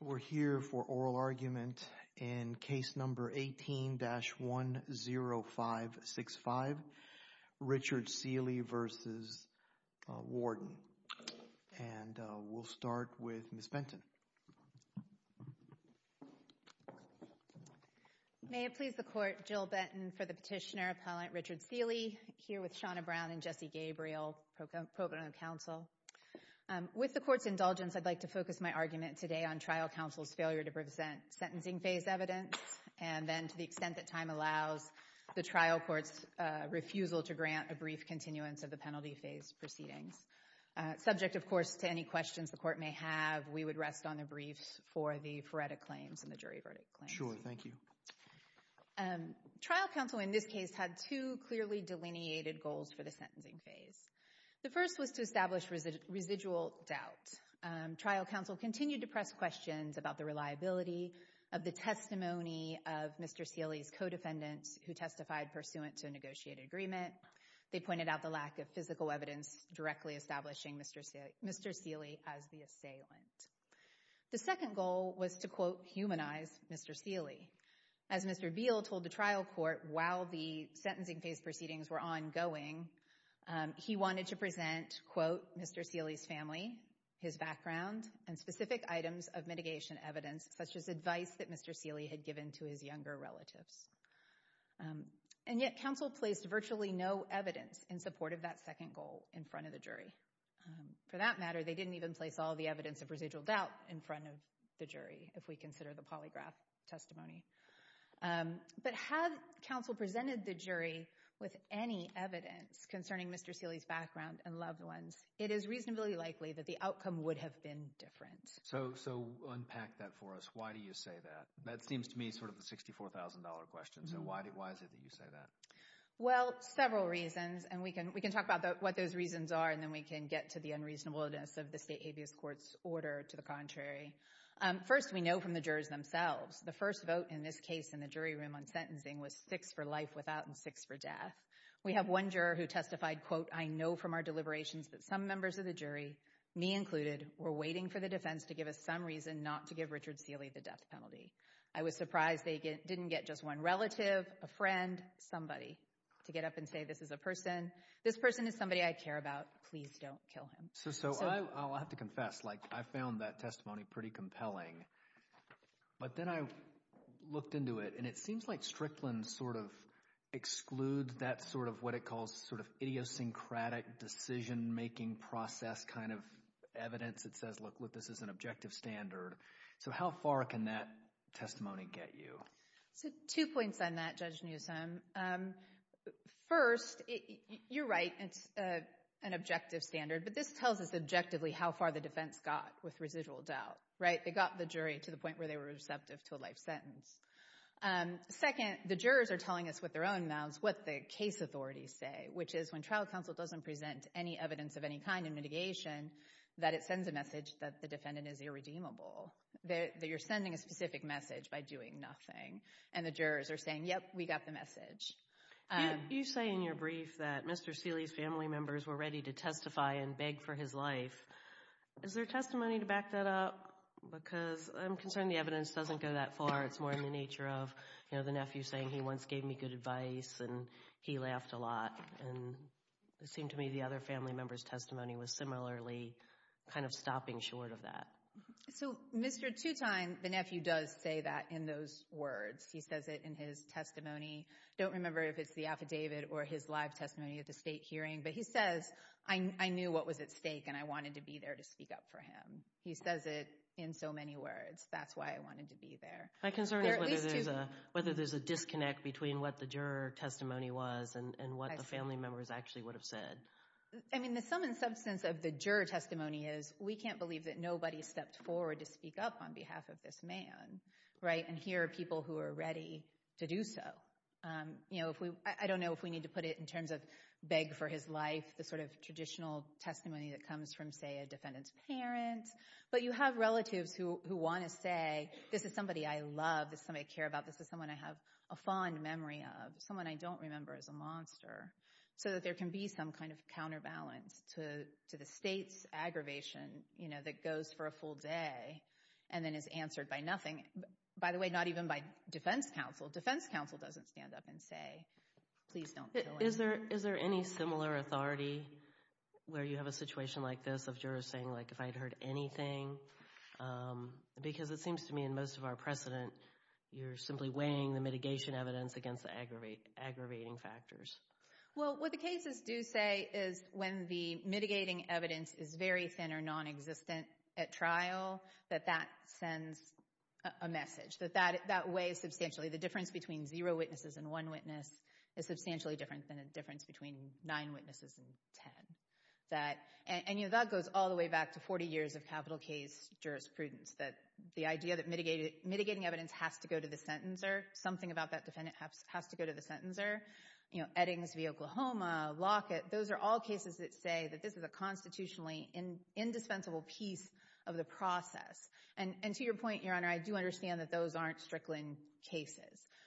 We're here for oral argument in Case No. 18-10565, Richard Sealey v. Warden. And we'll start with Ms. Benton. May it please the Court, Jill Benton for the petitioner, Appellant Richard Sealey, here with Shauna Brown and Jesse Gabriel, pro bono counsel. With the Court's indulgence, I'd like to focus my argument today on trial counsel's failure to present sentencing phase evidence, and then to the extent that time allows, the trial court's refusal to grant a brief continuance of the penalty phase proceedings. Subject, of course, to any questions the Court may have, we would rest on the briefs for the phoretic claims and the jury verdict claims. Sure. Thank you. Trial counsel, in this case, had two clearly delineated goals for the sentencing phase. The first was to establish residual doubt. Trial counsel continued to press questions about the reliability of the testimony of Mr. Sealey's co-defendants who testified pursuant to a negotiated agreement. They pointed out the lack of physical evidence directly establishing Mr. Sealey as the assailant. The second goal was to, quote, humanize Mr. Sealey. As Mr. Beal told the trial court while the sentencing phase proceedings were ongoing, he wanted to present, quote, Mr. Sealey's family, his background, and specific items of mitigation evidence, such as advice that Mr. Sealey had given to his younger relatives. And yet, counsel placed virtually no evidence in support of that second goal in front of the jury. For that matter, they didn't even place all the evidence of residual doubt in front of the jury, if we consider the polygraph testimony. But had counsel presented the jury with any evidence concerning Mr. Sealey's background and loved ones, it is reasonably likely that the outcome would have been different. So unpack that for us. Why do you say that? That seems to me sort of the $64,000 question. So why is it that you say that? Well, several reasons. And we can talk about what those reasons are, and then we can get to the unreasonableness of the state habeas court's order to the contrary. First, we know from the jurors themselves, the first vote in this case in the jury room on sentencing was six for life without and six for death. We have one juror who testified, quote, I know from our deliberations that some members of the jury, me included, were waiting for the defense to give us some reason not to give Richard Sealey the death penalty. I was surprised they didn't get just one relative, a friend, somebody to get up and say this is a person, this person is somebody I care about, please don't kill him. So I'll have to confess, like, I found that testimony pretty compelling. But then I looked into it, and it seems like Strickland sort of excludes that sort of what it calls sort of idiosyncratic decision-making process kind of evidence that says, look, this is an objective standard. So how far can that testimony get you? So two points on that, Judge Newsom. First, you're right, it's an objective standard, but this tells us objectively how far the defense got with residual doubt, right? They got the jury to the point where they were receptive to a life sentence. Second, the jurors are telling us with their own mouths what the case authorities say, which is when trial counsel doesn't present any evidence of any kind in mitigation, that it sends a message that the defendant is irredeemable, that you're sending a specific message by doing nothing. And the jurors are saying, yep, we got the message. You say in your brief that Mr. Steeley's family members were ready to testify and beg for his life. Is there testimony to back that up? Because I'm concerned the evidence doesn't go that far. It's more in the nature of, you know, the nephew saying he once gave me good advice and he laughed a lot, and it seemed to me the other family member's testimony was similarly kind of stopping short of that. So Mr. Tutine, the nephew, does say that in those words. He says it in his testimony. Don't remember if it's the affidavit or his live testimony at the state hearing, but he says I knew what was at stake and I wanted to be there to speak up for him. He says it in so many words. That's why I wanted to be there. My concern is whether there's a disconnect between what the juror testimony was and what the family members actually would have said. I mean, the sum and substance of the juror testimony is we can't believe that nobody stepped forward to speak up on behalf of this man, right? And here are people who are ready to do so. You know, I don't know if we need to put it in terms of beg for his life, the sort of traditional testimony that comes from, say, a defendant's parents. But you have relatives who want to say, this is somebody I love, this is somebody I care about, this is someone I have a fond memory of, someone I don't remember is a monster, so that there can be some kind of counterbalance to the state's aggravation, you know, that goes for a full day and then is answered by nothing. By the way, not even by defense counsel. Defense counsel doesn't stand up and say, please don't kill him. Is there any similar authority where you have a situation like this of jurors saying like if I'd heard anything? Because it seems to me in most of our precedent, you're simply weighing the mitigation evidence against the aggravating factors. Well, what the cases do say is when the mitigating evidence is very thin or non-existent at trial, that that sends a message, that that weighs substantially. The difference between zero witnesses and one witness is substantially different than the difference between nine witnesses and ten. And you know, that goes all the way back to 40 years of capital case jurisprudence. The idea that mitigating evidence has to go to the sentencer, something about that defendant has to go to the sentencer, you know, Eddings v. Oklahoma, Lockett, those are all cases that say that this is a constitutionally indispensable piece of the process. And to your point, Your Honor, I do understand that those aren't Strickland cases.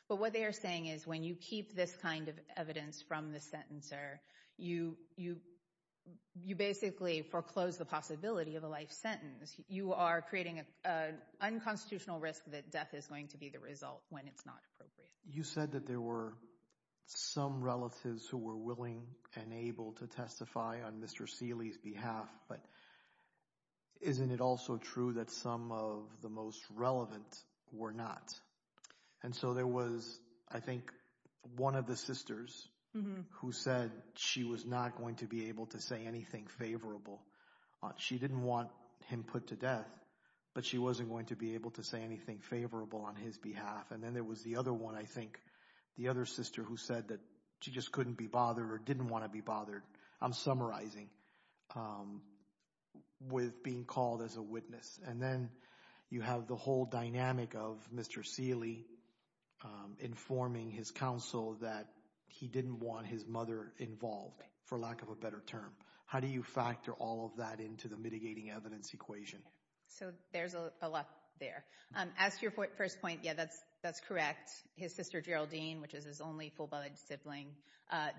But what they are saying is when you keep this kind of evidence from the sentencer, you basically foreclose the possibility of a life sentence. You are creating an unconstitutional risk that death is going to be the result when it's not appropriate. You said that there were some relatives who were willing and able to testify on Mr. Seeley's behalf, but isn't it also true that some of the most relevant were not? And so there was, I think, one of the sisters who said she was not going to be able to say anything favorable. She didn't want him put to death, but she wasn't going to be able to say anything favorable on his behalf. And then there was the other one, I think, the other sister who said that she just couldn't be bothered or didn't want to be bothered. I'm summarizing with being called as a witness. And then you have the whole dynamic of Mr. Seeley informing his counsel that he didn't want his mother involved, for lack of a better term. How do you factor all of that into the mitigating evidence equation? So there's a lot there. As to your first point, yeah, that's correct. His sister Geraldine, which is his only full-blooded sibling,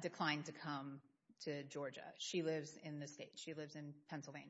declined to come to Georgia. She lives in Pennsylvania.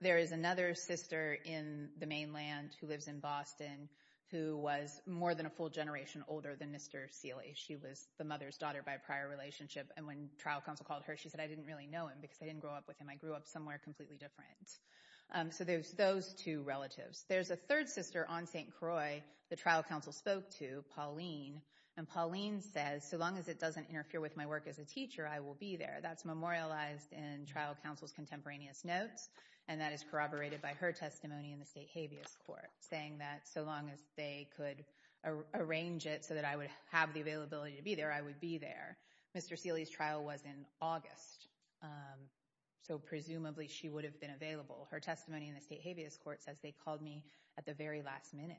There is another sister in the mainland who lives in Boston who was more than a full generation older than Mr. Seeley. She was the mother's daughter by prior relationship. And when trial counsel called her, she said, I didn't really know him because I didn't grow up with him. I grew up somewhere completely different. So there's those two relatives. There's a third sister on St. Croix the trial counsel spoke to, Pauline. And Pauline says, so long as it doesn't interfere with my work as a teacher, I will be there. That's memorialized in trial counsel's contemporaneous notes. And that is corroborated by her testimony in the state habeas court, saying that so long as they could arrange it so that I would have the availability to be there, I would be there. Mr. Seeley's trial was in August. So presumably she would have been available. Her testimony in the state habeas court says they called me at the very last minute.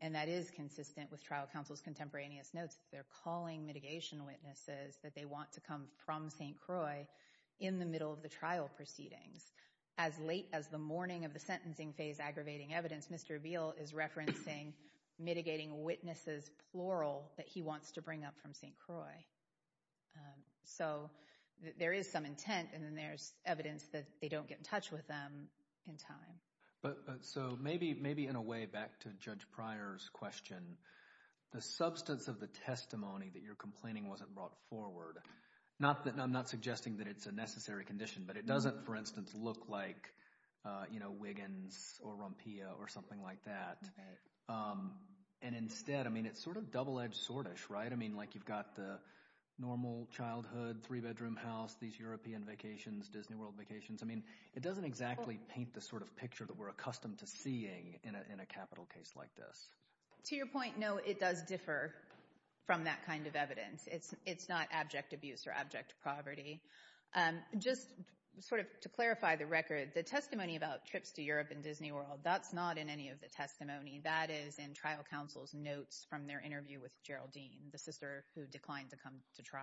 And that is consistent with trial counsel's contemporaneous notes. They're calling mitigation witnesses that they want to come from St. Croix in the middle of the trial proceedings. As late as the morning of the sentencing phase aggravating evidence, Mr. Abbeel is referencing mitigating witnesses, plural, that he wants to bring up from St. Croix. So there is some intent, and then there's evidence that they don't get in touch with them in time. So maybe in a way, back to Judge Pryor's question, the substance of the testimony that you're complaining wasn't brought forward, I'm not suggesting that it's a necessary condition, but it doesn't, for instance, look like Wiggins or Rumpia or something like that. And instead, I mean, it's sort of double-edged sword-ish, right? I mean, like you've got the normal childhood, three-bedroom house, these European vacations, Disney World vacations. I mean, it doesn't exactly paint the sort of picture that we're accustomed to seeing in a capital case like this. To your point, no, it does differ from that kind of evidence. It's not abject abuse or abject poverty. Just sort of to clarify the record, the testimony about trips to Europe and Disney World, that's not in any of the testimony. That is in trial counsel's notes from their interview with Geraldine, the sister who declined to come to trial.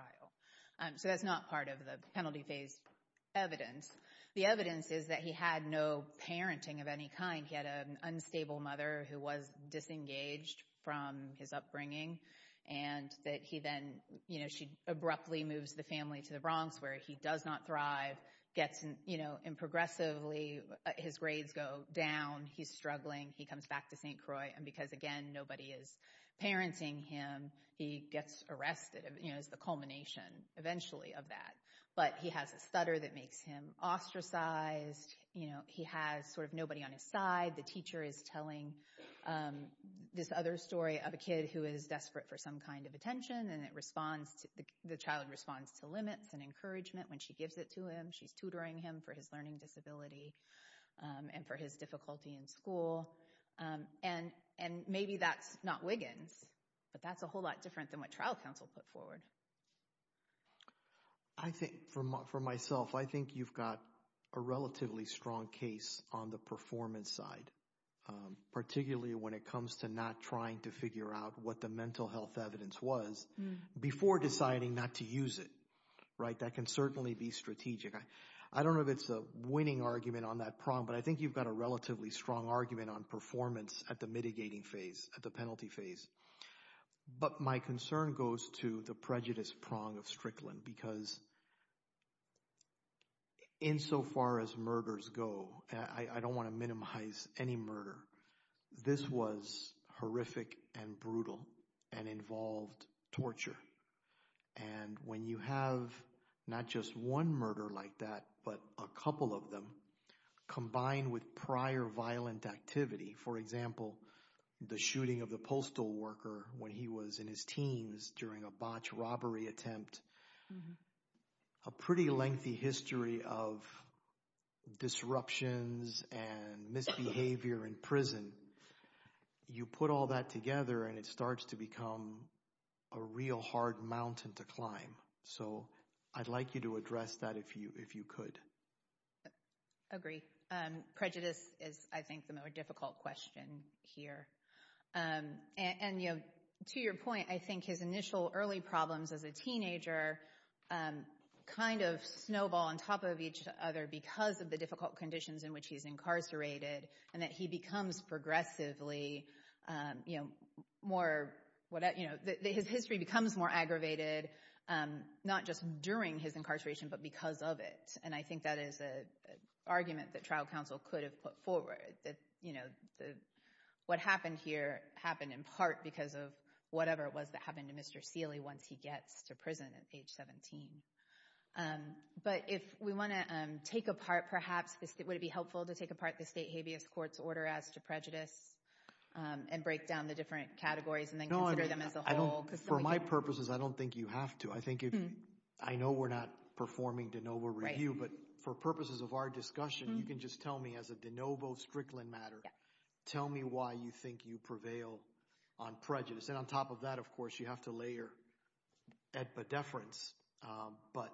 So that's not part of the penalty phase evidence. The evidence is that he had no parenting of any kind. He had an unstable mother who was disengaged from his upbringing, and that he then, you know, she abruptly moves the family to the Bronx, where he does not thrive, gets, you know, and progressively his grades go down. He's struggling. He comes back to St. Croix. And because, again, nobody is parenting him, he gets arrested, you know, is the culmination eventually of that. But he has a stutter that makes him ostracized. You know, he has sort of nobody on his side. The teacher is telling this other story of a kid who is desperate for some kind of attention, and it responds to, the child responds to limits and encouragement when she gives it to him. She's tutoring him for his learning disability and for his difficulty in school. And maybe that's not Wiggins, but that's a whole lot different than what trial counsel put forward. I think, for myself, I think you've got a relatively strong case on the performance side, particularly when it comes to not trying to figure out what the mental health evidence was before deciding not to use it, right? That can certainly be strategic. I don't know if it's a winning argument on that prong, but I think you've got a relatively strong argument on performance at the mitigating phase, at the penalty phase. But my concern goes to the prejudice prong of Strickland, because insofar as murders go, I don't want to minimize any murder, this was horrific and brutal and involved torture. And when you have not just one murder like that, but a couple of them combined with prior violent activity, for example, the shooting of the postal worker when he was in his teens during a botched robbery attempt, a pretty lengthy history of disruptions and misbehavior in prison, you put all that together and it starts to become a real hard mountain to climb. So I'd like you to address that if you could. Agree. Prejudice is, I think, the more difficult question here. And to your point, I think his initial early problems as a teenager kind of snowball on top of each other because of the difficult conditions in which he's incarcerated and that he becomes progressively more, his history becomes more aggravated, not just during his incarceration, but because of it. And I think that is an argument that trial counsel could have put forward, that what happened here happened in part because of whatever it was that happened to Mr. Seeley once he gets to prison at age 17. But if we want to take apart, perhaps, would it be helpful to take apart the state habeas court's order as to prejudice and break down the different categories and then consider them as a whole? For my purposes, I don't think you have to. I think if, I know we're not performing de novo review, but for purposes of our discussion, you can just tell me as a de novo Strickland matter, tell me why you think you prevail on prejudice. And on top of that, of course, you have to layer at the deference, but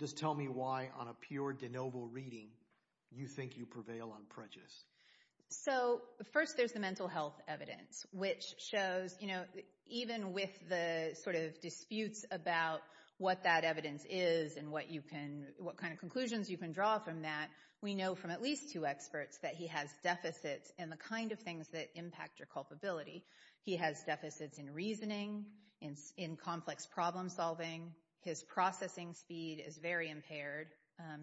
just tell me why on a pure de novo reading, you think you prevail on prejudice. So first there's the mental health evidence, which shows, you know, even with the sort of disputes about what that evidence is and what you can, what kind of conclusions you can draw from that, we know from at least two experts that he has deficits in the kind of things that impact your culpability. He has deficits in reasoning, in complex problem solving, his processing speed is very impaired,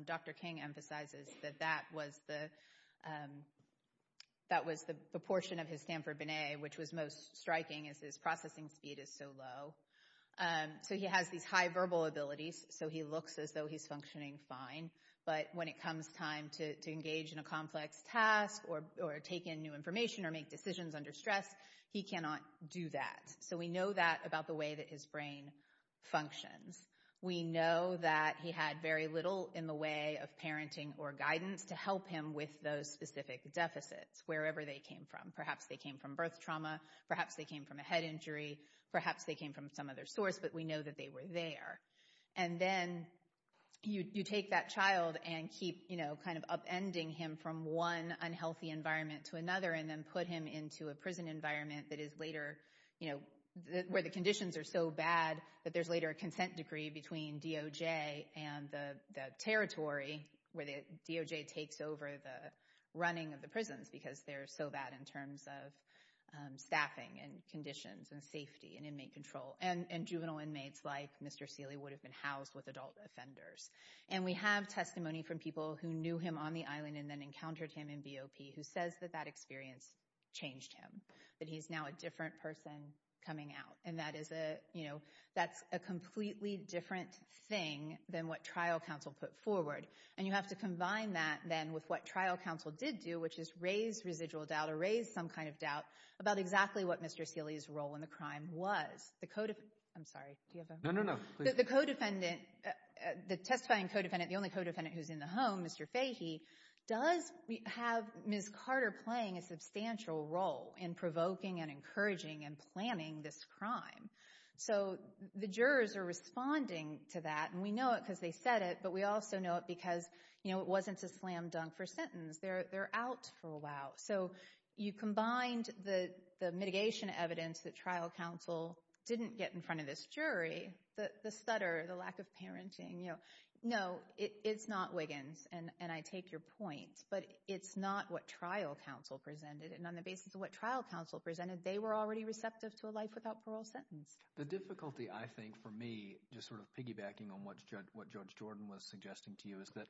Dr. King emphasizes that that was the, that was the proportion of his Stanford-Binet, which was most striking as his processing speed is so low. So he has these high verbal abilities, so he looks as though he's functioning fine, but when it comes time to engage in a complex task or take in new information or make decisions under stress, he cannot do that. So we know that about the way that his brain functions. We know that he had very little in the way of parenting or guidance to help him with those specific deficits, wherever they came from. Perhaps they came from birth trauma, perhaps they came from a head injury, perhaps they came from some other source, but we know that they were there. And then you take that child and keep, you know, kind of upending him from one unhealthy environment to another and then put him into a prison environment that is later, you know, where the conditions are so bad that there's later a consent decree between DOJ and the territory where the DOJ takes over the running of the prisons because they're so bad in terms of staffing and conditions and safety and inmate control. And juvenile inmates like Mr. Seeley would have been housed with adult offenders. And we have testimony from people who knew him on the island and then encountered him in BOP who says that that experience changed him, that he's now a different person coming out. And that is a, you know, that's a completely different thing than what trial counsel put forward. And you have to combine that then with what trial counsel did do, which is raise residual doubt or raise some kind of doubt about exactly what Mr. Seeley's role in the crime was. The co-defendant, I'm sorry, do you have a? No, no, no. The co-defendant, the testifying co-defendant, the only co-defendant who's in the home, Mr. Seeley, you have Ms. Carter playing a substantial role in provoking and encouraging and planning this crime. So the jurors are responding to that, and we know it because they said it, but we also know it because, you know, it wasn't a slam dunk for a sentence. They're out for a while. So you combined the mitigation evidence that trial counsel didn't get in front of this jury, the stutter, the lack of parenting, you know, no, it's not Wiggins, and I take your point, but it's not what trial counsel presented, and on the basis of what trial counsel presented, they were already receptive to a life without parole sentence. The difficulty, I think, for me, just sort of piggybacking on what Judge Jordan was suggesting to you is that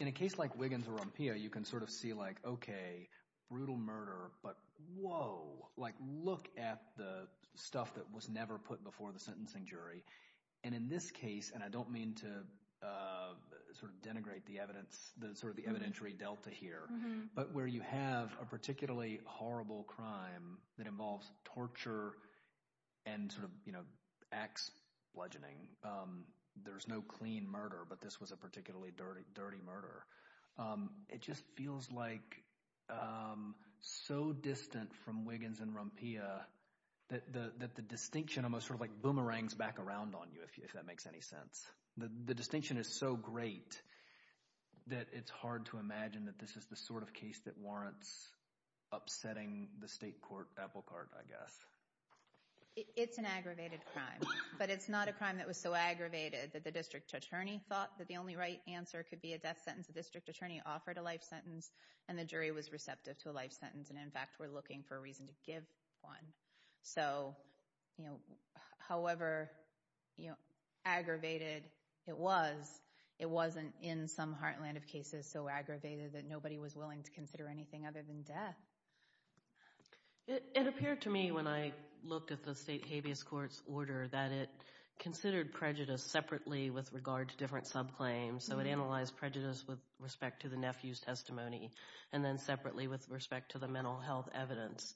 in a case like Wiggins or Rompilla, you can sort of see like, okay, brutal murder, but whoa, like look at the stuff that was never put before the sentencing jury. And in this case, and I don't mean to sort of denigrate the evidence, the sort of the evidentiary delta here, but where you have a particularly horrible crime that involves torture and sort of, you know, axe bludgeoning. There's no clean murder, but this was a particularly dirty murder. It just feels like so distant from Wiggins and Rompilla that the distinction almost sort of goes back around on you, if that makes any sense. The distinction is so great that it's hard to imagine that this is the sort of case that warrants upsetting the state court apple cart, I guess. It's an aggravated crime, but it's not a crime that was so aggravated that the district attorney thought that the only right answer could be a death sentence. The district attorney offered a life sentence, and the jury was receptive to a life sentence, and in fact, were looking for a reason to give one. So, you know, however, you know, aggravated it was, it wasn't in some heartland of cases so aggravated that nobody was willing to consider anything other than death. It appeared to me when I looked at the state habeas court's order that it considered prejudice separately with regard to different subclaims, so it analyzed prejudice with respect to the nephew's testimony, and then separately with respect to the mental health evidence.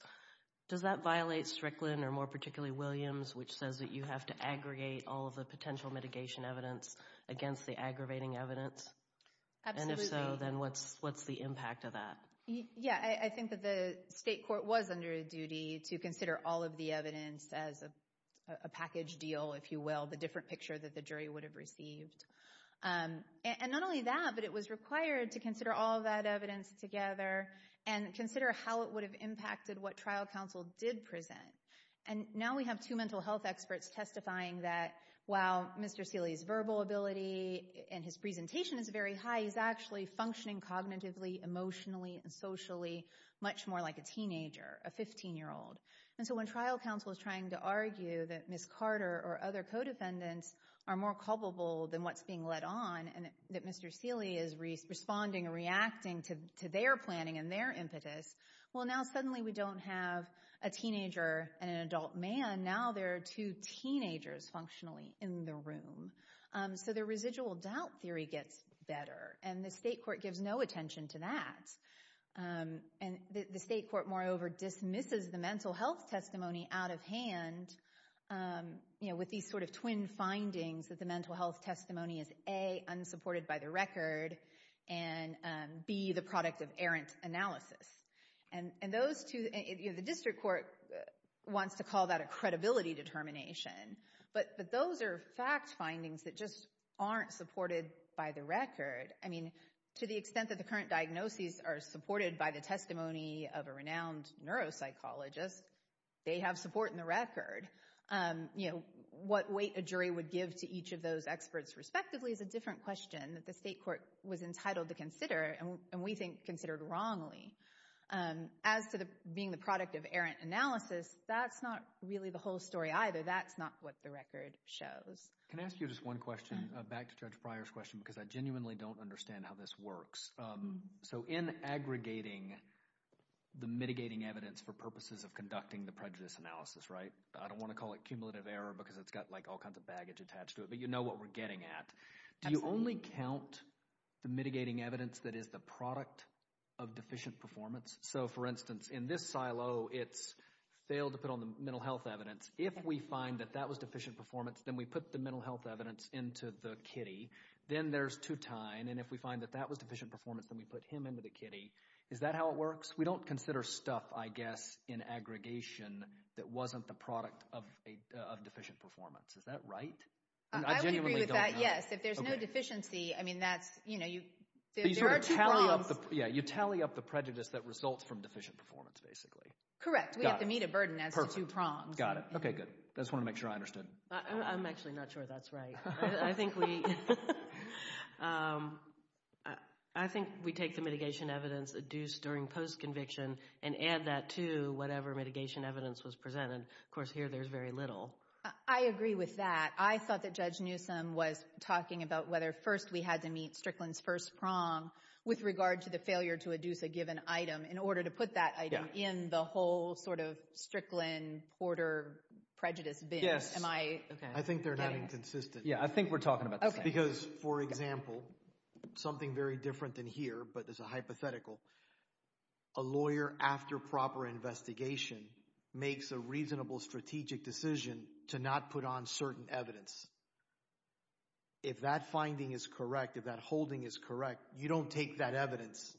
Does that violate Strickland, or more particularly Williams, which says that you have to aggregate all of the potential mitigation evidence against the aggravating evidence? Absolutely. And if so, then what's the impact of that? Yeah, I think that the state court was under duty to consider all of the evidence as a package deal, if you will, the different picture that the jury would have received. And not only that, but it was required to consider all of that evidence together and consider how it would have impacted what trial counsel did present. And now we have two mental health experts testifying that, wow, Mr. Seeley's verbal ability and his presentation is very high, he's actually functioning cognitively, emotionally, and socially much more like a teenager, a 15-year-old. And so when trial counsel is trying to argue that Ms. Carter or other co-defendants are more culpable than what's being led on, and that Mr. Seeley is responding and reacting to their planning and their impetus, well, now suddenly we don't have a teenager and an adult man. Now there are two teenagers functionally in the room. So the residual doubt theory gets better, and the state court gives no attention to that. And the state court, moreover, dismisses the mental health testimony out of hand, you know, with these sort of twin findings that the mental health testimony is A, unsupported by the record, and B, the product of errant analysis. And those two, you know, the district court wants to call that a credibility determination, but those are fact findings that just aren't supported by the record. I mean, to the extent that the current diagnoses are supported by the testimony of a renowned neuropsychologist, they have support in the record. You know, what weight a jury would give to each of those experts respectively is a different question that the state court was entitled to consider, and we think considered wrongly. As to being the product of errant analysis, that's not really the whole story either. That's not what the record shows. Can I ask you just one question, back to Judge Pryor's question, because I genuinely don't understand how this works. So in aggregating the mitigating evidence for purposes of conducting the prejudice analysis, right? I don't want to call it cumulative error because it's got like all kinds of baggage attached to it. But you know what we're getting at. Absolutely. Do you only count the mitigating evidence that is the product of deficient performance? So for instance, in this silo, it's failed to put on the mental health evidence. If we find that that was deficient performance, then we put the mental health evidence into the kitty. Then there's Tutine, and if we find that that was deficient performance, then we put him into the kitty. Is that how it works? We don't consider stuff, I guess, in aggregation that wasn't the product of deficient performance. Is that right? I would agree with that. Yes. If there's no deficiency, I mean, that's, you know, there are two prongs. You tally up the prejudice that results from deficient performance, basically. Correct. We have to meet a burden as to two prongs. Perfect. Got it. Okay, good. I just want to make sure I understood. I'm actually not sure that's right. I think we take the mitigation evidence adduced during post-conviction and add that to whatever mitigation evidence was presented. Of course, here there's very little. I agree with that. I thought that Judge Newsom was talking about whether first we had to meet Strickland's first prong with regard to the failure to adduce a given item in order to put that item in the whole sort of Strickland-Porter prejudice bin. Yes. Am I getting it? I think they're not inconsistent. Yeah, I think we're talking about the same thing. Okay. Because, for example, something very different than here, but it's a hypothetical. A lawyer, after proper investigation, makes a reasonable strategic decision to not put on certain evidence. If that finding is correct, if that holding is correct, you don't take that evidence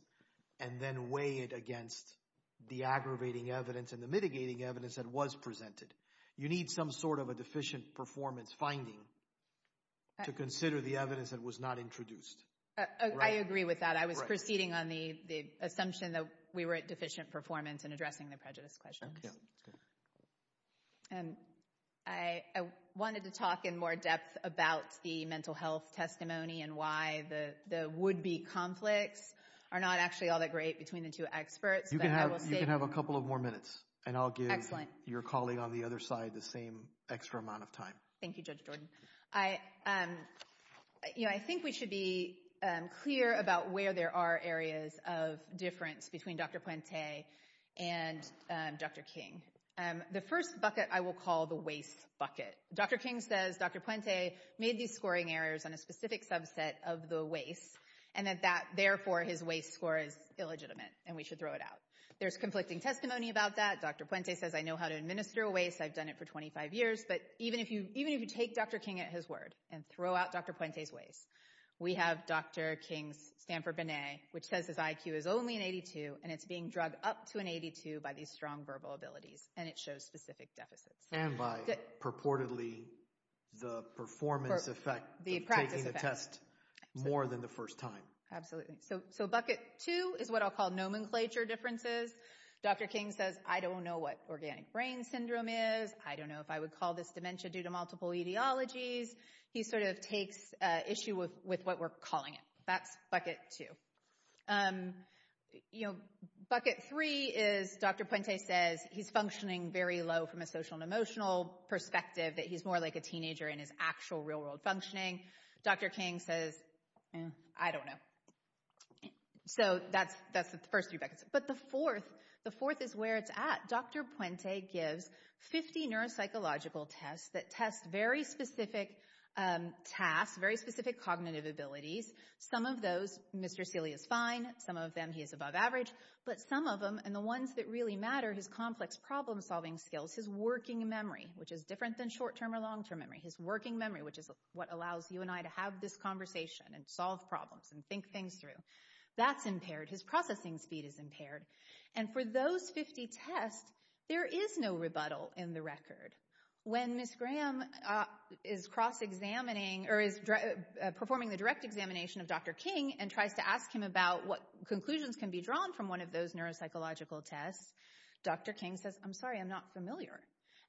and then weigh it against the aggravating evidence and the mitigating evidence that was presented. You need some sort of a deficient performance finding to consider the evidence that was not introduced. Right? I agree with that. I was proceeding on the assumption that we were at deficient performance in addressing the prejudice questions. Yeah, that's good. I wanted to talk in more depth about the mental health testimony and why the would-be conflicts are not actually all that great between the two experts, but I will say— You can have a couple of more minutes, and I'll give your colleague on the other side the same extra amount of time. Thank you, Judge Jordan. I think we should be clear about where there are areas of difference between Dr. Pointe and Dr. King. The first bucket I will call the waste bucket. Dr. King says Dr. Pointe made these scoring errors on a specific subset of the waste, and that therefore his waste score is illegitimate, and we should throw it out. There's conflicting testimony about that. Dr. Pointe says, I know how to administer a waste, I've done it for 25 years, but even if you take Dr. King at his word and throw out Dr. Pointe's waste, we have Dr. King's And for Binet, which says his IQ is only an 82, and it's being drugged up to an 82 by these strong verbal abilities, and it shows specific deficits. And by purportedly the performance effect of taking the test more than the first time. Absolutely. So bucket two is what I'll call nomenclature differences. Dr. King says, I don't know what organic brain syndrome is, I don't know if I would call this dementia due to multiple etiologies, he sort of takes issue with what we're calling it. That's bucket two. Bucket three is Dr. Pointe says he's functioning very low from a social and emotional perspective, that he's more like a teenager in his actual real world functioning. Dr. King says, I don't know. So that's the first three buckets. But the fourth, the fourth is where it's at. Dr. Pointe gives 50 neuropsychological tests that test very specific tasks, very specific cognitive abilities. Some of those, Mr. Seely is fine, some of them he is above average, but some of them and the ones that really matter, his complex problem solving skills, his working memory, which is different than short term or long term memory, his working memory, which is what allows you and I to have this conversation and solve problems and think things through. That's impaired, his processing speed is impaired. And for those 50 tests, there is no rebuttal in the record. When Ms. Graham is cross-examining or is performing the direct examination of Dr. King and tries to ask him about what conclusions can be drawn from one of those neuropsychological tests, Dr. King says, I'm sorry, I'm not familiar.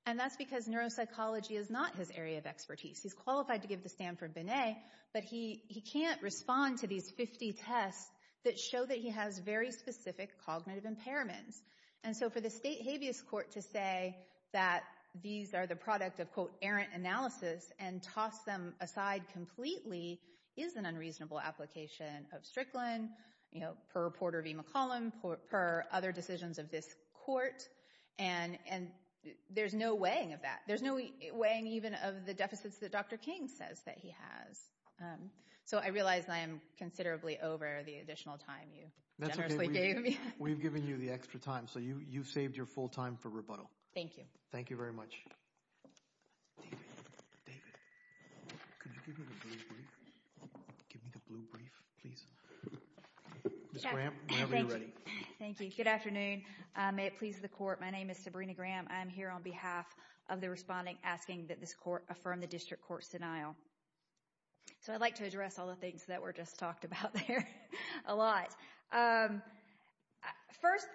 And that's because neuropsychology is not his area of expertise. He's qualified to give the Stanford Binet, but he can't respond to these 50 tests that show that he has very specific cognitive impairments. And so for the state habeas court to say that these are the product of, quote, errant analysis and toss them aside completely is an unreasonable application of Strickland, you know, per reporter V. McCollum, per other decisions of this court. And there's no weighing of that. There's no weighing even of the deficits that Dr. King says that he has. So I realize I am considerably over the additional time you generously gave me. We've given you the extra time, so you've saved your full time for rebuttal. Thank you. Thank you very much. David. David. Could you give me the blue brief? Give me the blue brief, please. Ms. Graham, whenever you're ready. Thank you. Good afternoon. May it please the court. My name is Sabrina Graham. I'm here on behalf of the responding asking that this court affirm the district court 's denial. So I'd like to address all the things that were just talked about there a lot. First,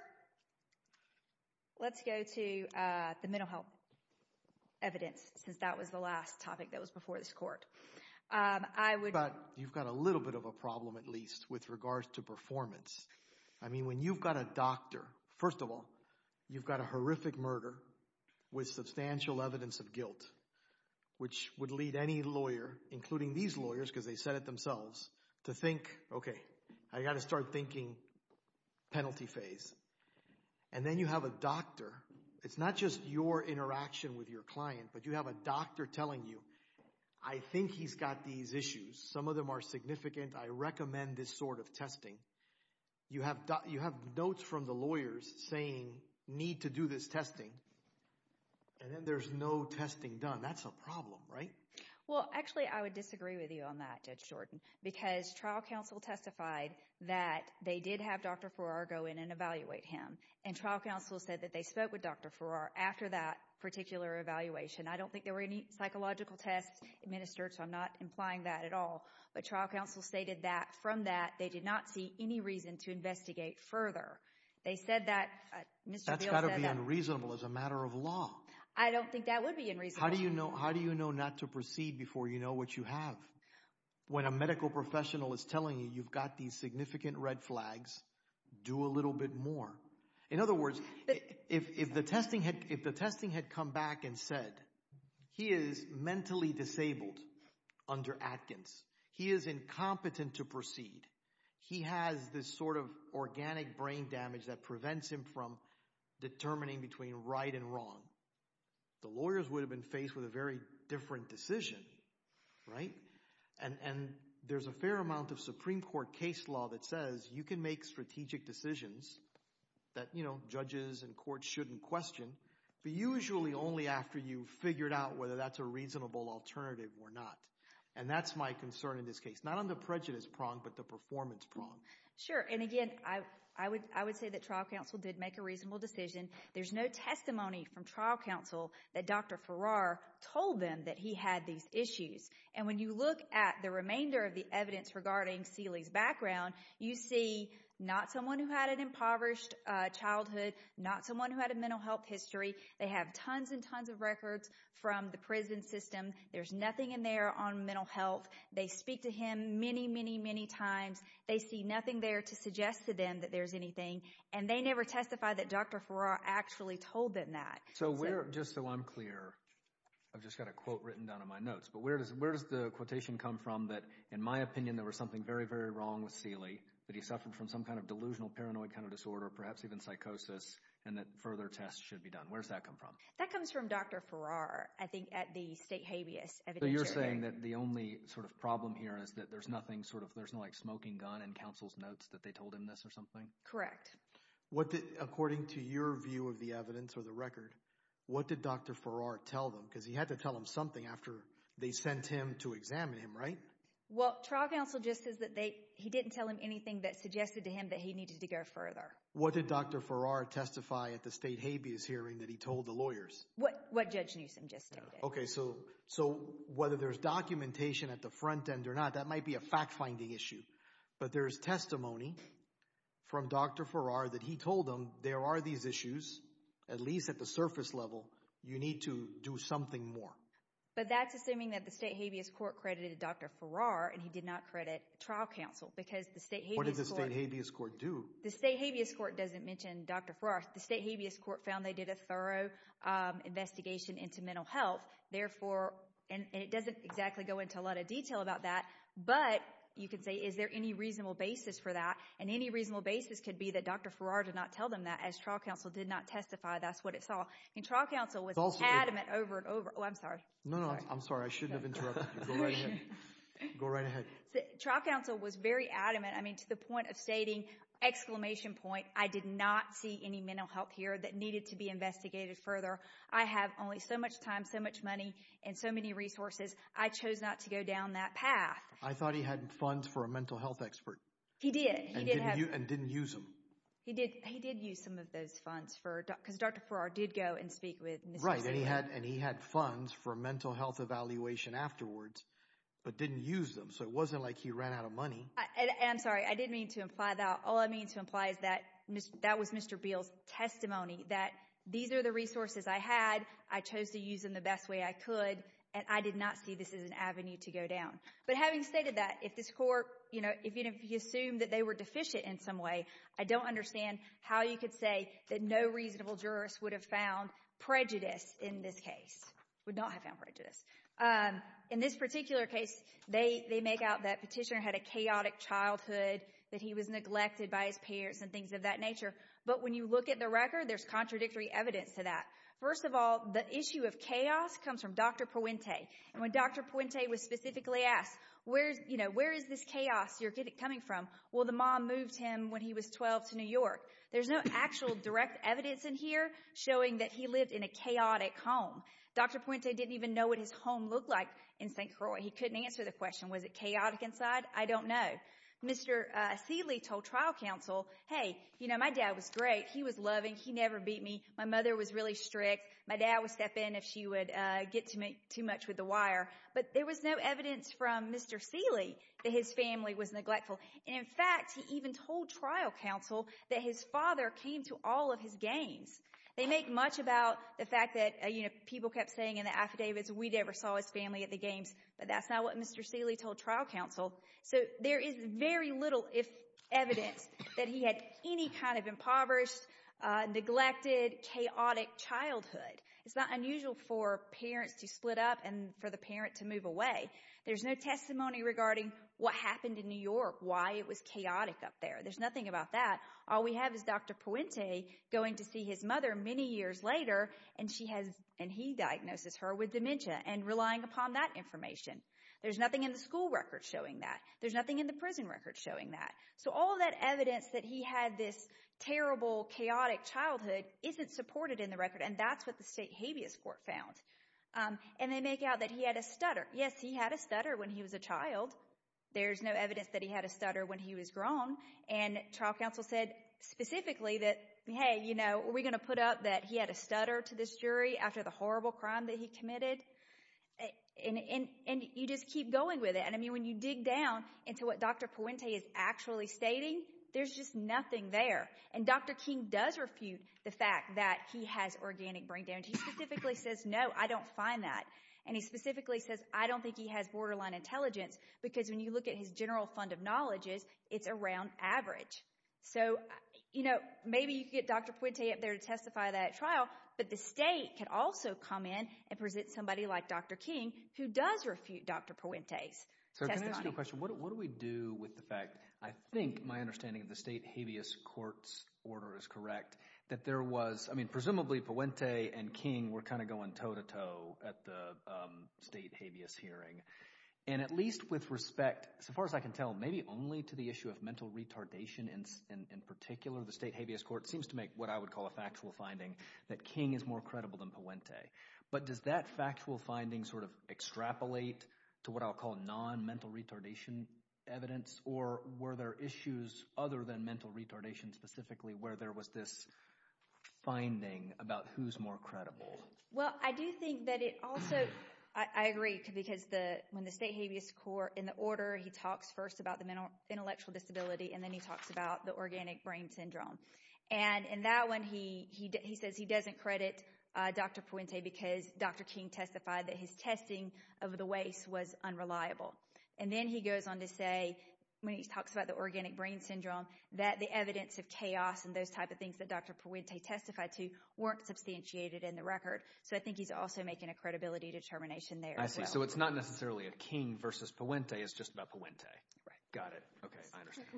let's go to the mental health evidence, since that was the last topic that was before this court. I would— But you've got a little bit of a problem, at least, with regards to performance. I mean, when you've got a doctor, first of all, you've got a horrific murder with substantial evidence of guilt, which would lead any lawyer, including these lawyers, because they said to think, okay, I've got to start thinking penalty phase. And then you have a doctor. It's not just your interaction with your client, but you have a doctor telling you, I think he's got these issues. Some of them are significant. I recommend this sort of testing. You have notes from the lawyers saying, need to do this testing, and then there's no testing done. That's a problem, right? Well, actually, I would disagree with you on that, Judge Jordan, because trial counsel testified that they did have Dr. Farrar go in and evaluate him. And trial counsel said that they spoke with Dr. Farrar after that particular evaluation. I don't think there were any psychological tests administered, so I'm not implying that at all. But trial counsel stated that from that, they did not see any reason to investigate further. They said that— That's got to be unreasonable as a matter of law. I don't think that would be unreasonable. How do you know not to proceed before you know what you have? When a medical professional is telling you, you've got these significant red flags, do a little bit more. In other words, if the testing had come back and said, he is mentally disabled under Atkins. He is incompetent to proceed. He has this sort of organic brain damage that prevents him from determining between right and wrong. The lawyers would have been faced with a very different decision, right? And there's a fair amount of Supreme Court case law that says you can make strategic decisions that, you know, judges and courts shouldn't question, but usually only after you've figured out whether that's a reasonable alternative or not. And that's my concern in this case, not on the prejudice prong, but the performance prong. Sure. And again, I would say that trial counsel did make a reasonable decision. There's no testimony from trial counsel that Dr. Farrar told them that he had these issues. And when you look at the remainder of the evidence regarding Seeley's background, you see not someone who had an impoverished childhood, not someone who had a mental health history. They have tons and tons of records from the prison system. There's nothing in there on mental health. They speak to him many, many, many times. They see nothing there to suggest to them that there's anything. And they never testify that Dr. Farrar actually told them that. So where, just so I'm clear, I've just got a quote written down in my notes, but where does, where does the quotation come from that, in my opinion, there was something very, very wrong with Seeley, that he suffered from some kind of delusional, paranoid kind of disorder, perhaps even psychosis, and that further tests should be done? Where's that come from? That comes from Dr. Farrar, I think, at the state habeas evidentiary. So you're saying that the only sort of problem here is that there's nothing sort of, there's no like smoking gun in counsel's notes that they told him this or something? Correct. What did, according to your view of the evidence or the record, what did Dr. Farrar tell them? Because he had to tell them something after they sent him to examine him, right? Well, trial counsel just says that they, he didn't tell him anything that suggested to him that he needed to go further. What did Dr. Farrar testify at the state habeas hearing that he told the lawyers? What Judge Newsom just stated. Okay, so, so whether there's documentation at the front end or not, that might be a fact finding issue. But there's testimony from Dr. Farrar that he told them, there are these issues, at least at the surface level, you need to do something more. But that's assuming that the state habeas court credited Dr. Farrar and he did not credit trial counsel, because the state habeas court, What does the state habeas court do? The state habeas court doesn't mention Dr. Farrar, the state habeas court found they did a thorough investigation into mental health, therefore, and it doesn't exactly go into a lot of detail about that, but you could say, is there any reasonable basis for that? And any reasonable basis could be that Dr. Farrar did not tell them that as trial counsel did not testify. That's what it saw. And trial counsel was adamant over and over, oh, I'm sorry. No, no, I'm sorry. I shouldn't have interrupted you. Go right ahead. Go right ahead. So, trial counsel was very adamant, I mean, to the point of stating, exclamation point, I did not see any mental health here that needed to be investigated further. I have only so much time, so much money, and so many resources. I chose not to go down that path. I thought he had funds for a mental health expert. He did. And didn't use them. He did. He did use some of those funds for, because Dr. Farrar did go and speak with Ms. O'Sullivan. Right, and he had funds for mental health evaluation afterwards, but didn't use them, so it wasn't like he ran out of money. I'm sorry. I didn't mean to imply that. All I mean to imply is that, that was Mr. Beal's testimony, that these are the resources I had, I chose to use them the best way I could, and I did not see this as an avenue to go down. But having stated that, if this court, you know, if you assume that they were deficient in some way, I don't understand how you could say that no reasonable jurist would have found prejudice in this case, would not have found prejudice. In this particular case, they make out that Petitioner had a chaotic childhood, that he was neglected by his parents, and things of that nature. But when you look at the record, there's contradictory evidence to that. First of all, the issue of chaos comes from Dr. Puente. And when Dr. Puente was specifically asked, you know, where is this chaos you're coming from? Well, the mom moved him when he was 12 to New York. There's no actual direct evidence in here showing that he lived in a chaotic home. Dr. Puente didn't even know what his home looked like in St. Croix. He couldn't answer the question, was it chaotic inside? I don't know. But Mr. Seeley told trial counsel, hey, you know, my dad was great. He was loving. He never beat me. My mother was really strict. My dad would step in if she would get to me too much with the wire. But there was no evidence from Mr. Seeley that his family was neglectful. And in fact, he even told trial counsel that his father came to all of his games. They make much about the fact that, you know, people kept saying in the affidavits, we never saw his family at the games, but that's not what Mr. Seeley told trial counsel. So there is very little evidence that he had any kind of impoverished, neglected, chaotic childhood. It's not unusual for parents to split up and for the parent to move away. There's no testimony regarding what happened in New York, why it was chaotic up there. There's nothing about that. All we have is Dr. Puente going to see his mother many years later, and he diagnoses her with dementia and relying upon that information. There's nothing in the school record showing that. There's nothing in the prison record showing that. So all that evidence that he had this terrible, chaotic childhood isn't supported in the record, and that's what the state habeas court found. And they make out that he had a stutter. Yes, he had a stutter when he was a child. There's no evidence that he had a stutter when he was grown. And trial counsel said specifically that, hey, you know, are we going to put up that he had a stutter to this jury after the horrible crime that he committed? And you just keep going with it. And I mean, when you dig down into what Dr. Puente is actually stating, there's just nothing there. And Dr. King does refute the fact that he has organic brain damage. He specifically says, no, I don't find that. And he specifically says, I don't think he has borderline intelligence, because when you look at his general fund of knowledges, it's around average. So, you know, maybe you get Dr. Puente up there to testify that trial, but the state could also come in and present somebody like Dr. King who does refute Dr. Puente's testimony. Sir, can I ask you a question? What do we do with the fact, I think my understanding of the state habeas court's order is correct, that there was, I mean, presumably Puente and King were kind of going toe-to-toe at the state habeas hearing. And at least with respect, so far as I can tell, maybe only to the issue of mental retardation in particular, the state habeas court seems to make what I would call a factual finding that King is more credible than Puente. But does that factual finding sort of extrapolate to what I would call non-mental retardation evidence? Or were there issues other than mental retardation specifically where there was this finding about who's more credible? Well, I do think that it also, I agree, because when the state habeas court, in the order he talks first about the intellectual disability, and then he talks about the organic brain syndrome. And in that one, he says he doesn't credit Dr. Puente because Dr. King testified that his testing of the waste was unreliable. And then he goes on to say, when he talks about the organic brain syndrome, that the evidence of chaos and those type of things that Dr. Puente testified to weren't substantiated in the record. So I think he's also making a credibility determination there as well. I see. So it's not necessarily a King versus Puente, it's just about Puente. Right. Got it. Okay, I understand.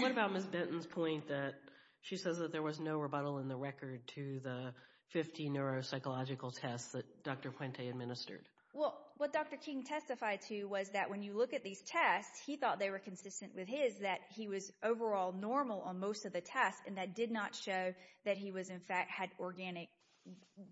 What about Ms. Benton's point that she says that there was no rebuttal in the record to the 50 neuropsychological tests that Dr. Puente administered? Well, what Dr. King testified to was that when you look at these tests, he thought they were consistent with his, that he was overall normal on most of the tests, and that did not show that he was in fact had organic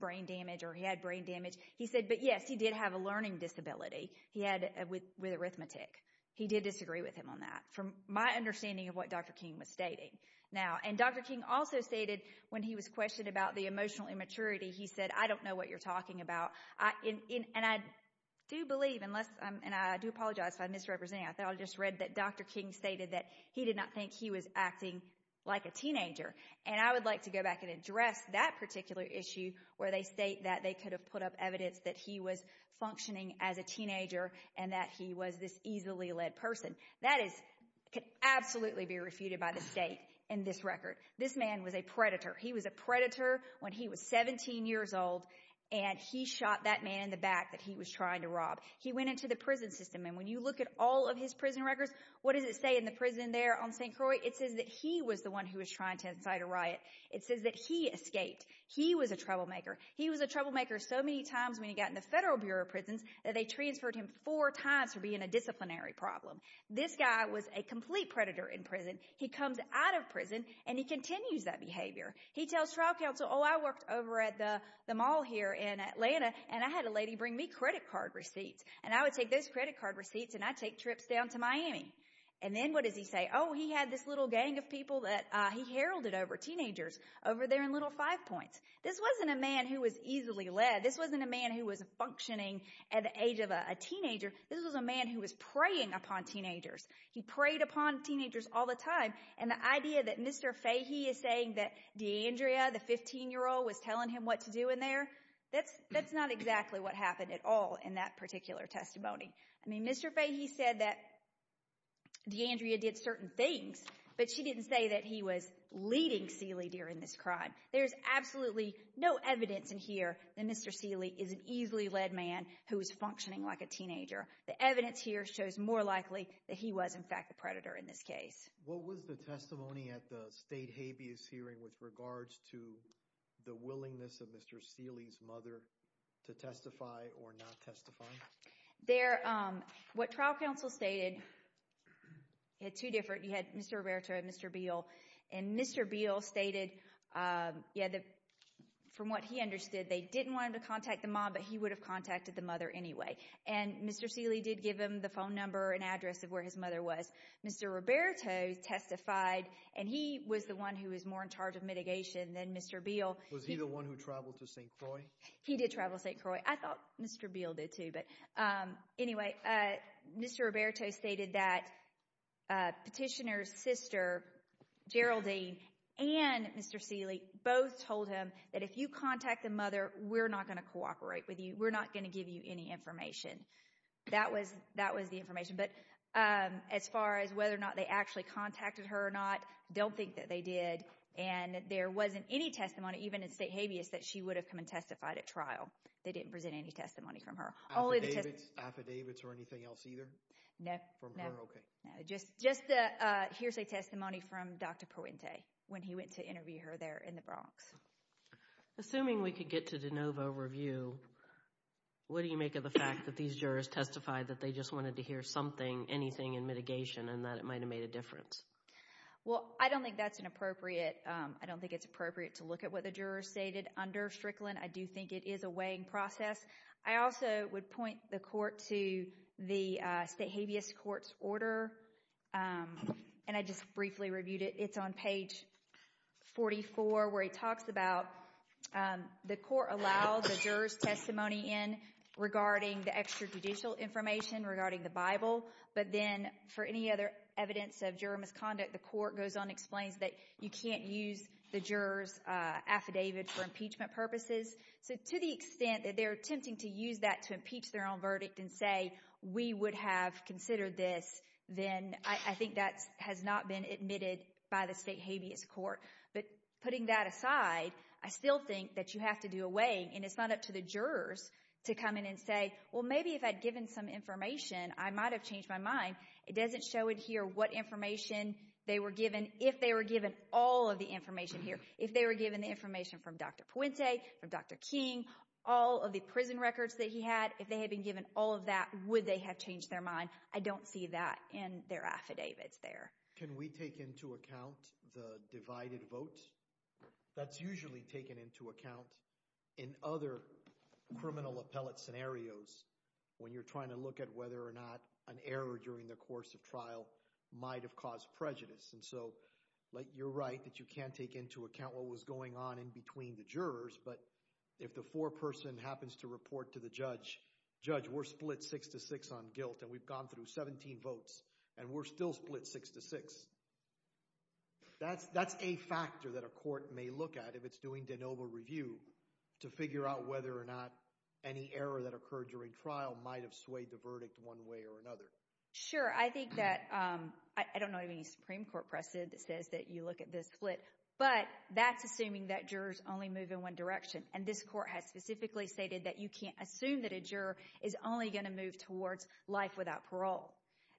brain damage or he had brain damage. He said, but yes, he did have a learning disability. He had with arithmetic. He did disagree with him on that. From my understanding of what Dr. King was stating now, and Dr. King also stated when he was questioned about the emotional immaturity, he said, I don't know what you're talking about. And I do believe, and I do apologize if I misrepresent, I just read that Dr. King stated that he did not think he was acting like a teenager. And I would like to go back and address that particular issue where they state that they could have put up evidence that he was functioning as a teenager and that he was this easily led person. That is, could absolutely be refuted by the state in this record. This man was a predator. He was a predator when he was 17 years old, and he shot that man in the back that he was trying to rob. He went into the prison system, and when you look at all of his prison records, what does it say in the prison there on St. Croix? It says that he was the one who was trying to incite a riot. It says that he escaped. He was a troublemaker. He was a troublemaker so many times when he got in the Federal Bureau of Prisons that they transferred him four times for being a disciplinary problem. This guy was a complete predator in prison. He comes out of prison, and he continues that behavior. He tells trial counsel, oh, I worked over at the mall here in Atlanta, and I had a lady bring me credit card receipts. And I would take those credit card receipts, and I'd take trips down to Miami. And then what does he say? Oh, he had this little gang of people that he heralded over, teenagers, over there in Little Five Points. This wasn't a man who was easily led. This wasn't a man who was functioning at the age of a teenager. This was a man who was preying upon teenagers. He preyed upon teenagers all the time. And the idea that Mr. Fahey is saying that D'Andrea, the 15-year-old, was telling him what to do in there, that's not exactly what happened at all in that particular testimony. I mean, Mr. Fahey said that D'Andrea did certain things, but she didn't say that he was leading Seeley during this crime. There's absolutely no evidence in here that Mr. Seeley is an easily led man who is functioning like a teenager. The evidence here shows more likely that he was, in fact, the predator in this case. What was the testimony at the state habeas hearing with regards to the willingness of Mr. Seeley's mother to testify or not testify? What trial counsel stated, you had two different, you had Mr. Roberto and Mr. Beal. And Mr. Beal stated, yeah, from what he understood, they didn't want him to contact the mom, but he would have contacted the mother anyway. And Mr. Seeley did give him the phone number and address of where his mother was. Mr. Roberto testified, and he was the one who was more in charge of mitigation than Mr. Beal. Was he the one who traveled to St. Croix? He did travel to St. Croix. I thought Mr. Beal did too, but anyway, Mr. Roberto stated that Petitioner's sister, Geraldine, and Mr. Seeley both told him that if you contact the mother, we're not going to cooperate with you. We're not going to give you any information. That was the information. But as far as whether or not they actually contacted her or not, I don't think that they did. And there wasn't any testimony, even in state habeas, that she would have come and testified at trial. They didn't present any testimony from her. Affidavits? Affidavits or anything else either? No. From her? Okay. No, just the hearsay testimony from Dr. Puente when he went to interview her there in the Bronx. Assuming we could get to de novo review, what do you make of the fact that these jurors testified that they just wanted to hear something, anything in mitigation, and that it might have made a difference? Well, I don't think that's an appropriate, I don't think it's appropriate to look at what the jurors stated under Strickland. I do think it is a weighing process. I also would point the court to the state habeas court's order, and I just briefly reviewed it. It's on page 44, where it talks about the court allows a juror's testimony in regarding the extrajudicial information regarding the Bible, but then for any other evidence of juror misconduct, the court goes on and explains that you can't use the juror's affidavit for impeachment purposes. So to the extent that they're attempting to use that to impeach their own verdict and say we would have considered this, then I think that has not been admitted by the state habeas court. But putting that aside, I still think that you have to do a weighing, and it's not up to the jurors to come in and say, well, maybe if I'd given some information, I might have changed my mind. It doesn't show it here what information they were given, if they were given all of the Dr. King, all of the prison records that he had, if they had been given all of that, would they have changed their mind? I don't see that in their affidavits there. Can we take into account the divided vote? That's usually taken into account in other criminal appellate scenarios when you're trying to look at whether or not an error during the course of trial might have caused prejudice. And so you're right that you can't take into account what was going on in between the jurors, but if the foreperson happens to report to the judge, judge, we're split six to six on guilt, and we've gone through 17 votes, and we're still split six to six. That's a factor that a court may look at if it's doing de novo review to figure out whether or not any error that occurred during trial might have swayed the verdict one way or another. Sure. I think that, I don't know of any Supreme Court precedent that says that you look at this split, but that's assuming that jurors only move in one direction. And this court has specifically stated that you can't assume that a juror is only going to move towards life without parole.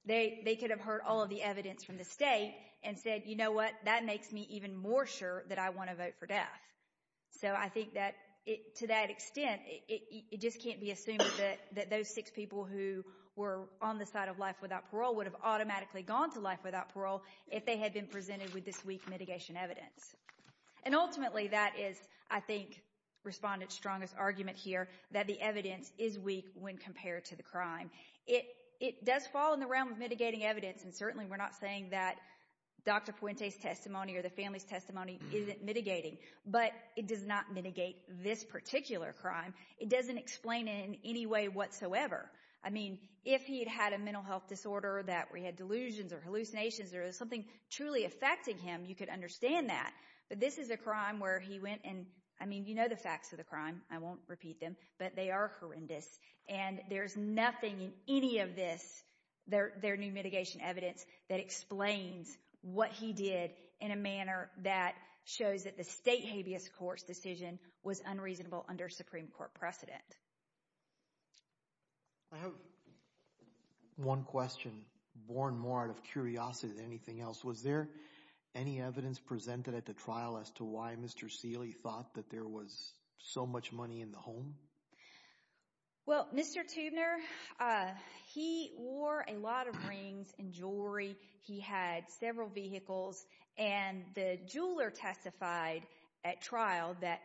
They could have heard all of the evidence from the state and said, you know what, that makes me even more sure that I want to vote for death. So I think that to that extent, it just can't be assumed that those six people who were on the side of life without parole would have automatically gone to life without parole if they had been presented with this weak mitigation evidence. And ultimately, that is, I think, Respondent Strong's argument here, that the evidence is weak when compared to the crime. It does fall in the realm of mitigating evidence, and certainly we're not saying that Dr. Puente's testimony or the family's testimony isn't mitigating, but it does not mitigate this particular crime. It doesn't explain it in any way whatsoever. I mean, if he had had a mental health disorder that we had delusions or hallucinations or something truly affecting him, you could understand that. But this is a crime where he went and, I mean, you know the facts of the crime. I won't repeat them, but they are horrendous. And there's nothing in any of this, their new mitigation evidence, that explains what he did in a manner that shows that the state habeas court's decision was unreasonable under Supreme Court precedent. I have one question, born more out of curiosity than anything else. Was there any evidence presented at the trial as to why Mr. Seeley thought that there was so much money in the home? Well, Mr. Toobner, he wore a lot of rings and jewelry. He had several vehicles. And the jeweler testified at trial that,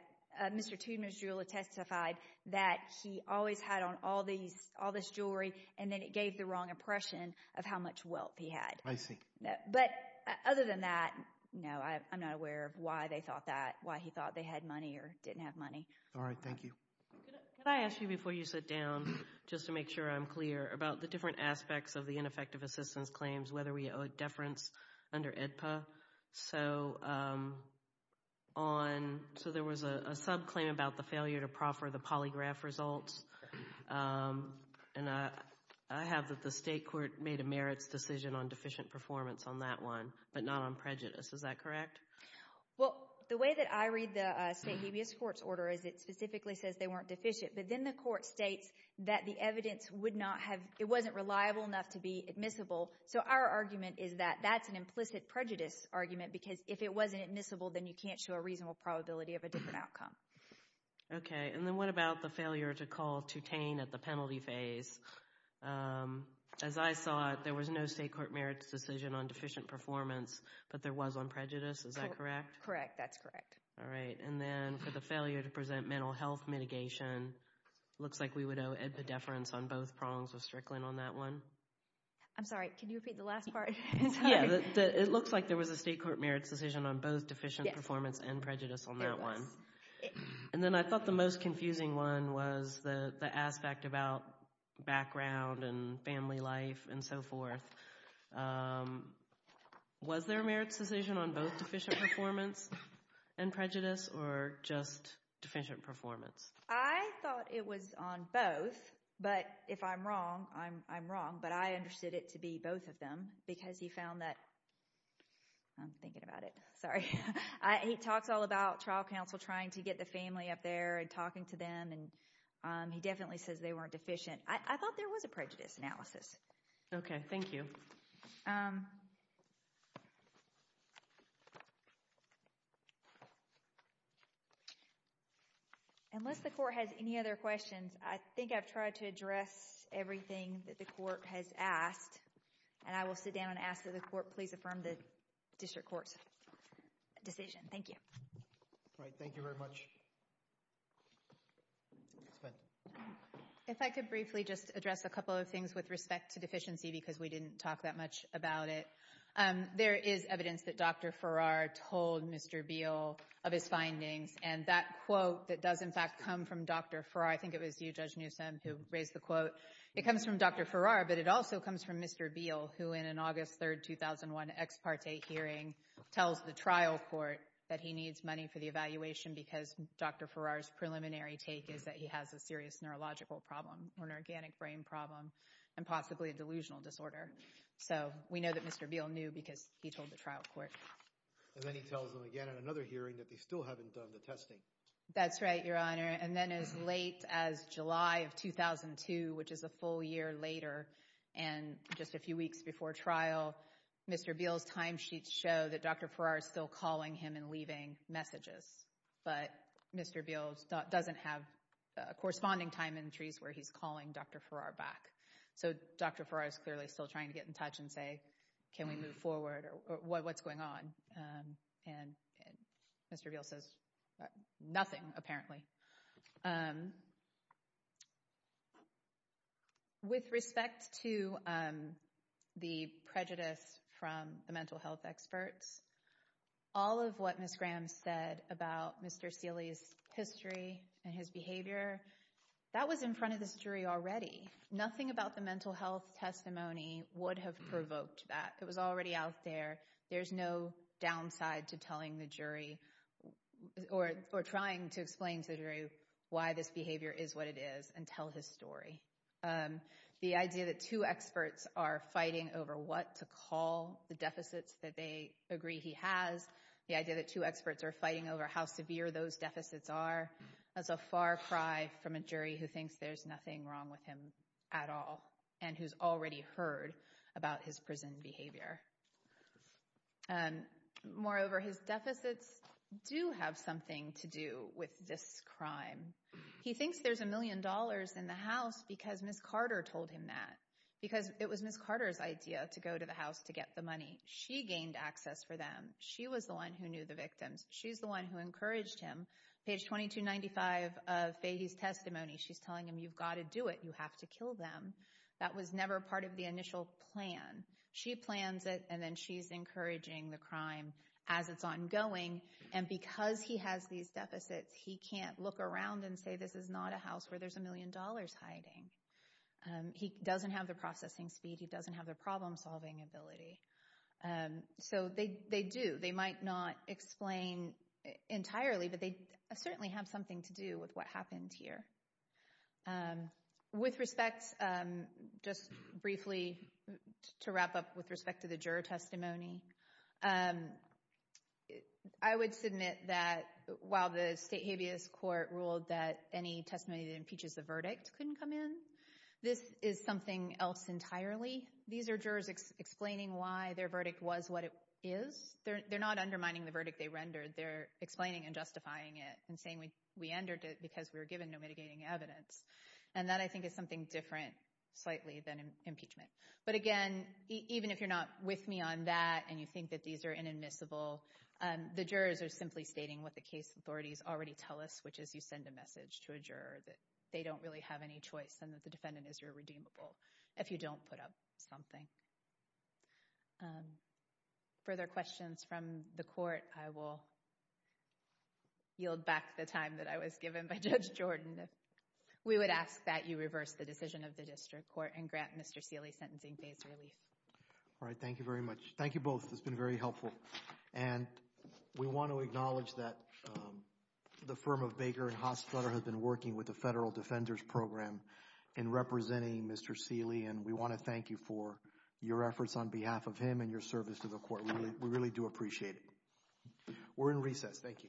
Mr. Toobner's jeweler testified that he always had on all these, all this jewelry, and then it gave the wrong impression of how much wealth he had. I see. But other than that, no, I'm not aware of why they thought that, why he thought they had money or didn't have money. All right. Thank you. Could I ask you before you sit down, just to make sure I'm clear, about the different So, on, so there was a subclaim about the failure to proffer the polygraph results. And I have that the state court made a merits decision on deficient performance on that one, but not on prejudice. Is that correct? Well, the way that I read the state habeas court's order is it specifically says they weren't deficient, but then the court states that the evidence would not have, it wasn't reliable enough to be admissible. So our argument is that that's an implicit prejudice argument, because if it wasn't admissible, then you can't show a reasonable probability of a different outcome. Okay. And then what about the failure to call Tutane at the penalty phase? As I saw it, there was no state court merits decision on deficient performance, but there was on prejudice. Is that correct? Correct. That's correct. All right. And then for the failure to present mental health mitigation, it looks like we would owe Ed Pedeference on both prongs of Strickland on that one. I'm sorry. Can you repeat the last part? Yeah. It looks like there was a state court merits decision on both deficient performance and prejudice on that one. And then I thought the most confusing one was the aspect about background and family life and so forth. Was there a merits decision on both deficient performance and prejudice, or just deficient performance? I thought it was on both, but if I'm wrong, I'm wrong, but I understood it to be both of them because he found that, I'm thinking about it, sorry, he talks all about trial counsel trying to get the family up there and talking to them, and he definitely says they weren't deficient. I thought there was a prejudice analysis. Okay. Thank you. Unless the court has any other questions, I think I've tried to address everything that the court has asked, and I will sit down and ask that the court please affirm the district court's decision. Thank you. All right. Thank you very much. Ms. Fenn. If I could briefly just address a couple of things with respect to deficiency because we didn't talk that much about it. There is evidence that Dr. Farrar told Mr. Beale of his findings, and that quote that does in fact come from Dr. Farrar, I think it was you, Judge Newsom, who raised the quote, it comes from Dr. Farrar, but it also comes from Mr. Beale, who in an August 3rd, 2001 ex parte hearing tells the trial court that he needs money for the evaluation because Dr. Farrar's preliminary take is that he has a serious neurological problem or an organic brain problem and possibly a delusional disorder. So we know that Mr. Beale knew because he told the trial court. And then he tells them again at another hearing that they still haven't done the testing. That's right, Your Honor. And then as late as July of 2002, which is a full year later, and just a few weeks before trial, Mr. Beale's timesheets show that Dr. Farrar is still calling him and leaving messages. But Mr. Beale doesn't have corresponding time entries where he's calling Dr. Farrar back. So Dr. Farrar is clearly still trying to get in touch and say, can we move forward or what's going on? And Mr. Beale says nothing, apparently. With respect to the prejudice from the mental health experts, all of what Ms. Graham said about Mr. Seeley's history and his behavior, that was in front of this jury already. Nothing about the mental health testimony would have provoked that. It was already out there. There's no downside to telling the jury or trying to explain to the jury why this behavior is what it is and tell his story. The idea that two experts are fighting over what to call the deficits that they agree he has, the idea that two experts are fighting over how severe those deficits are, is a far cry from a jury who thinks there's nothing wrong with him at all and who's already heard about his prison behavior. Moreover, his deficits do have something to do with this crime. He thinks there's a million dollars in the house because Ms. Carter told him that, because it was Ms. Carter's idea to go to the house to get the money. She gained access for them. She was the one who knew the victims. She's the one who encouraged him. Page 2295 of Fahey's testimony, she's telling him, you've got to do it. You have to kill them. That was never part of the initial plan. She plans it, and then she's encouraging the crime as it's ongoing. And because he has these deficits, he can't look around and say, this is not a house where there's a million dollars hiding. He doesn't have the processing speed. He doesn't have the problem-solving ability. So they do. They might not explain entirely, but they certainly have something to do with what happened here. With respect, just briefly to wrap up with respect to the juror testimony, I would submit that while the state habeas court ruled that any testimony that impeaches the verdict couldn't come in, this is something else entirely. These are jurors explaining why their verdict was what it is. They're not undermining the verdict they rendered. They're explaining and justifying it and saying we entered it because we were given no mitigating evidence. And that, I think, is something different, slightly, than impeachment. But again, even if you're not with me on that and you think that these are inadmissible, the jurors are simply stating what the case authorities already tell us, which is you send a message to a juror that they don't really have any choice and that the defendant is irredeemable if you don't put up something. Further questions from the court, I will yield back the time that I was given by Judge Jordan. We would ask that you reverse the decision of the district court and grant Mr. Seeley sentencing phase relief. All right. Thank you very much. Thank you both. It's been very helpful. Thank you. And we want to acknowledge that the firm of Baker and Haas Flutter have been working with the Federal Defenders Program in representing Mr. Seeley, and we want to thank you for your efforts on behalf of him and your service to the court. We really do appreciate it. We're in recess. Thank you. All rise.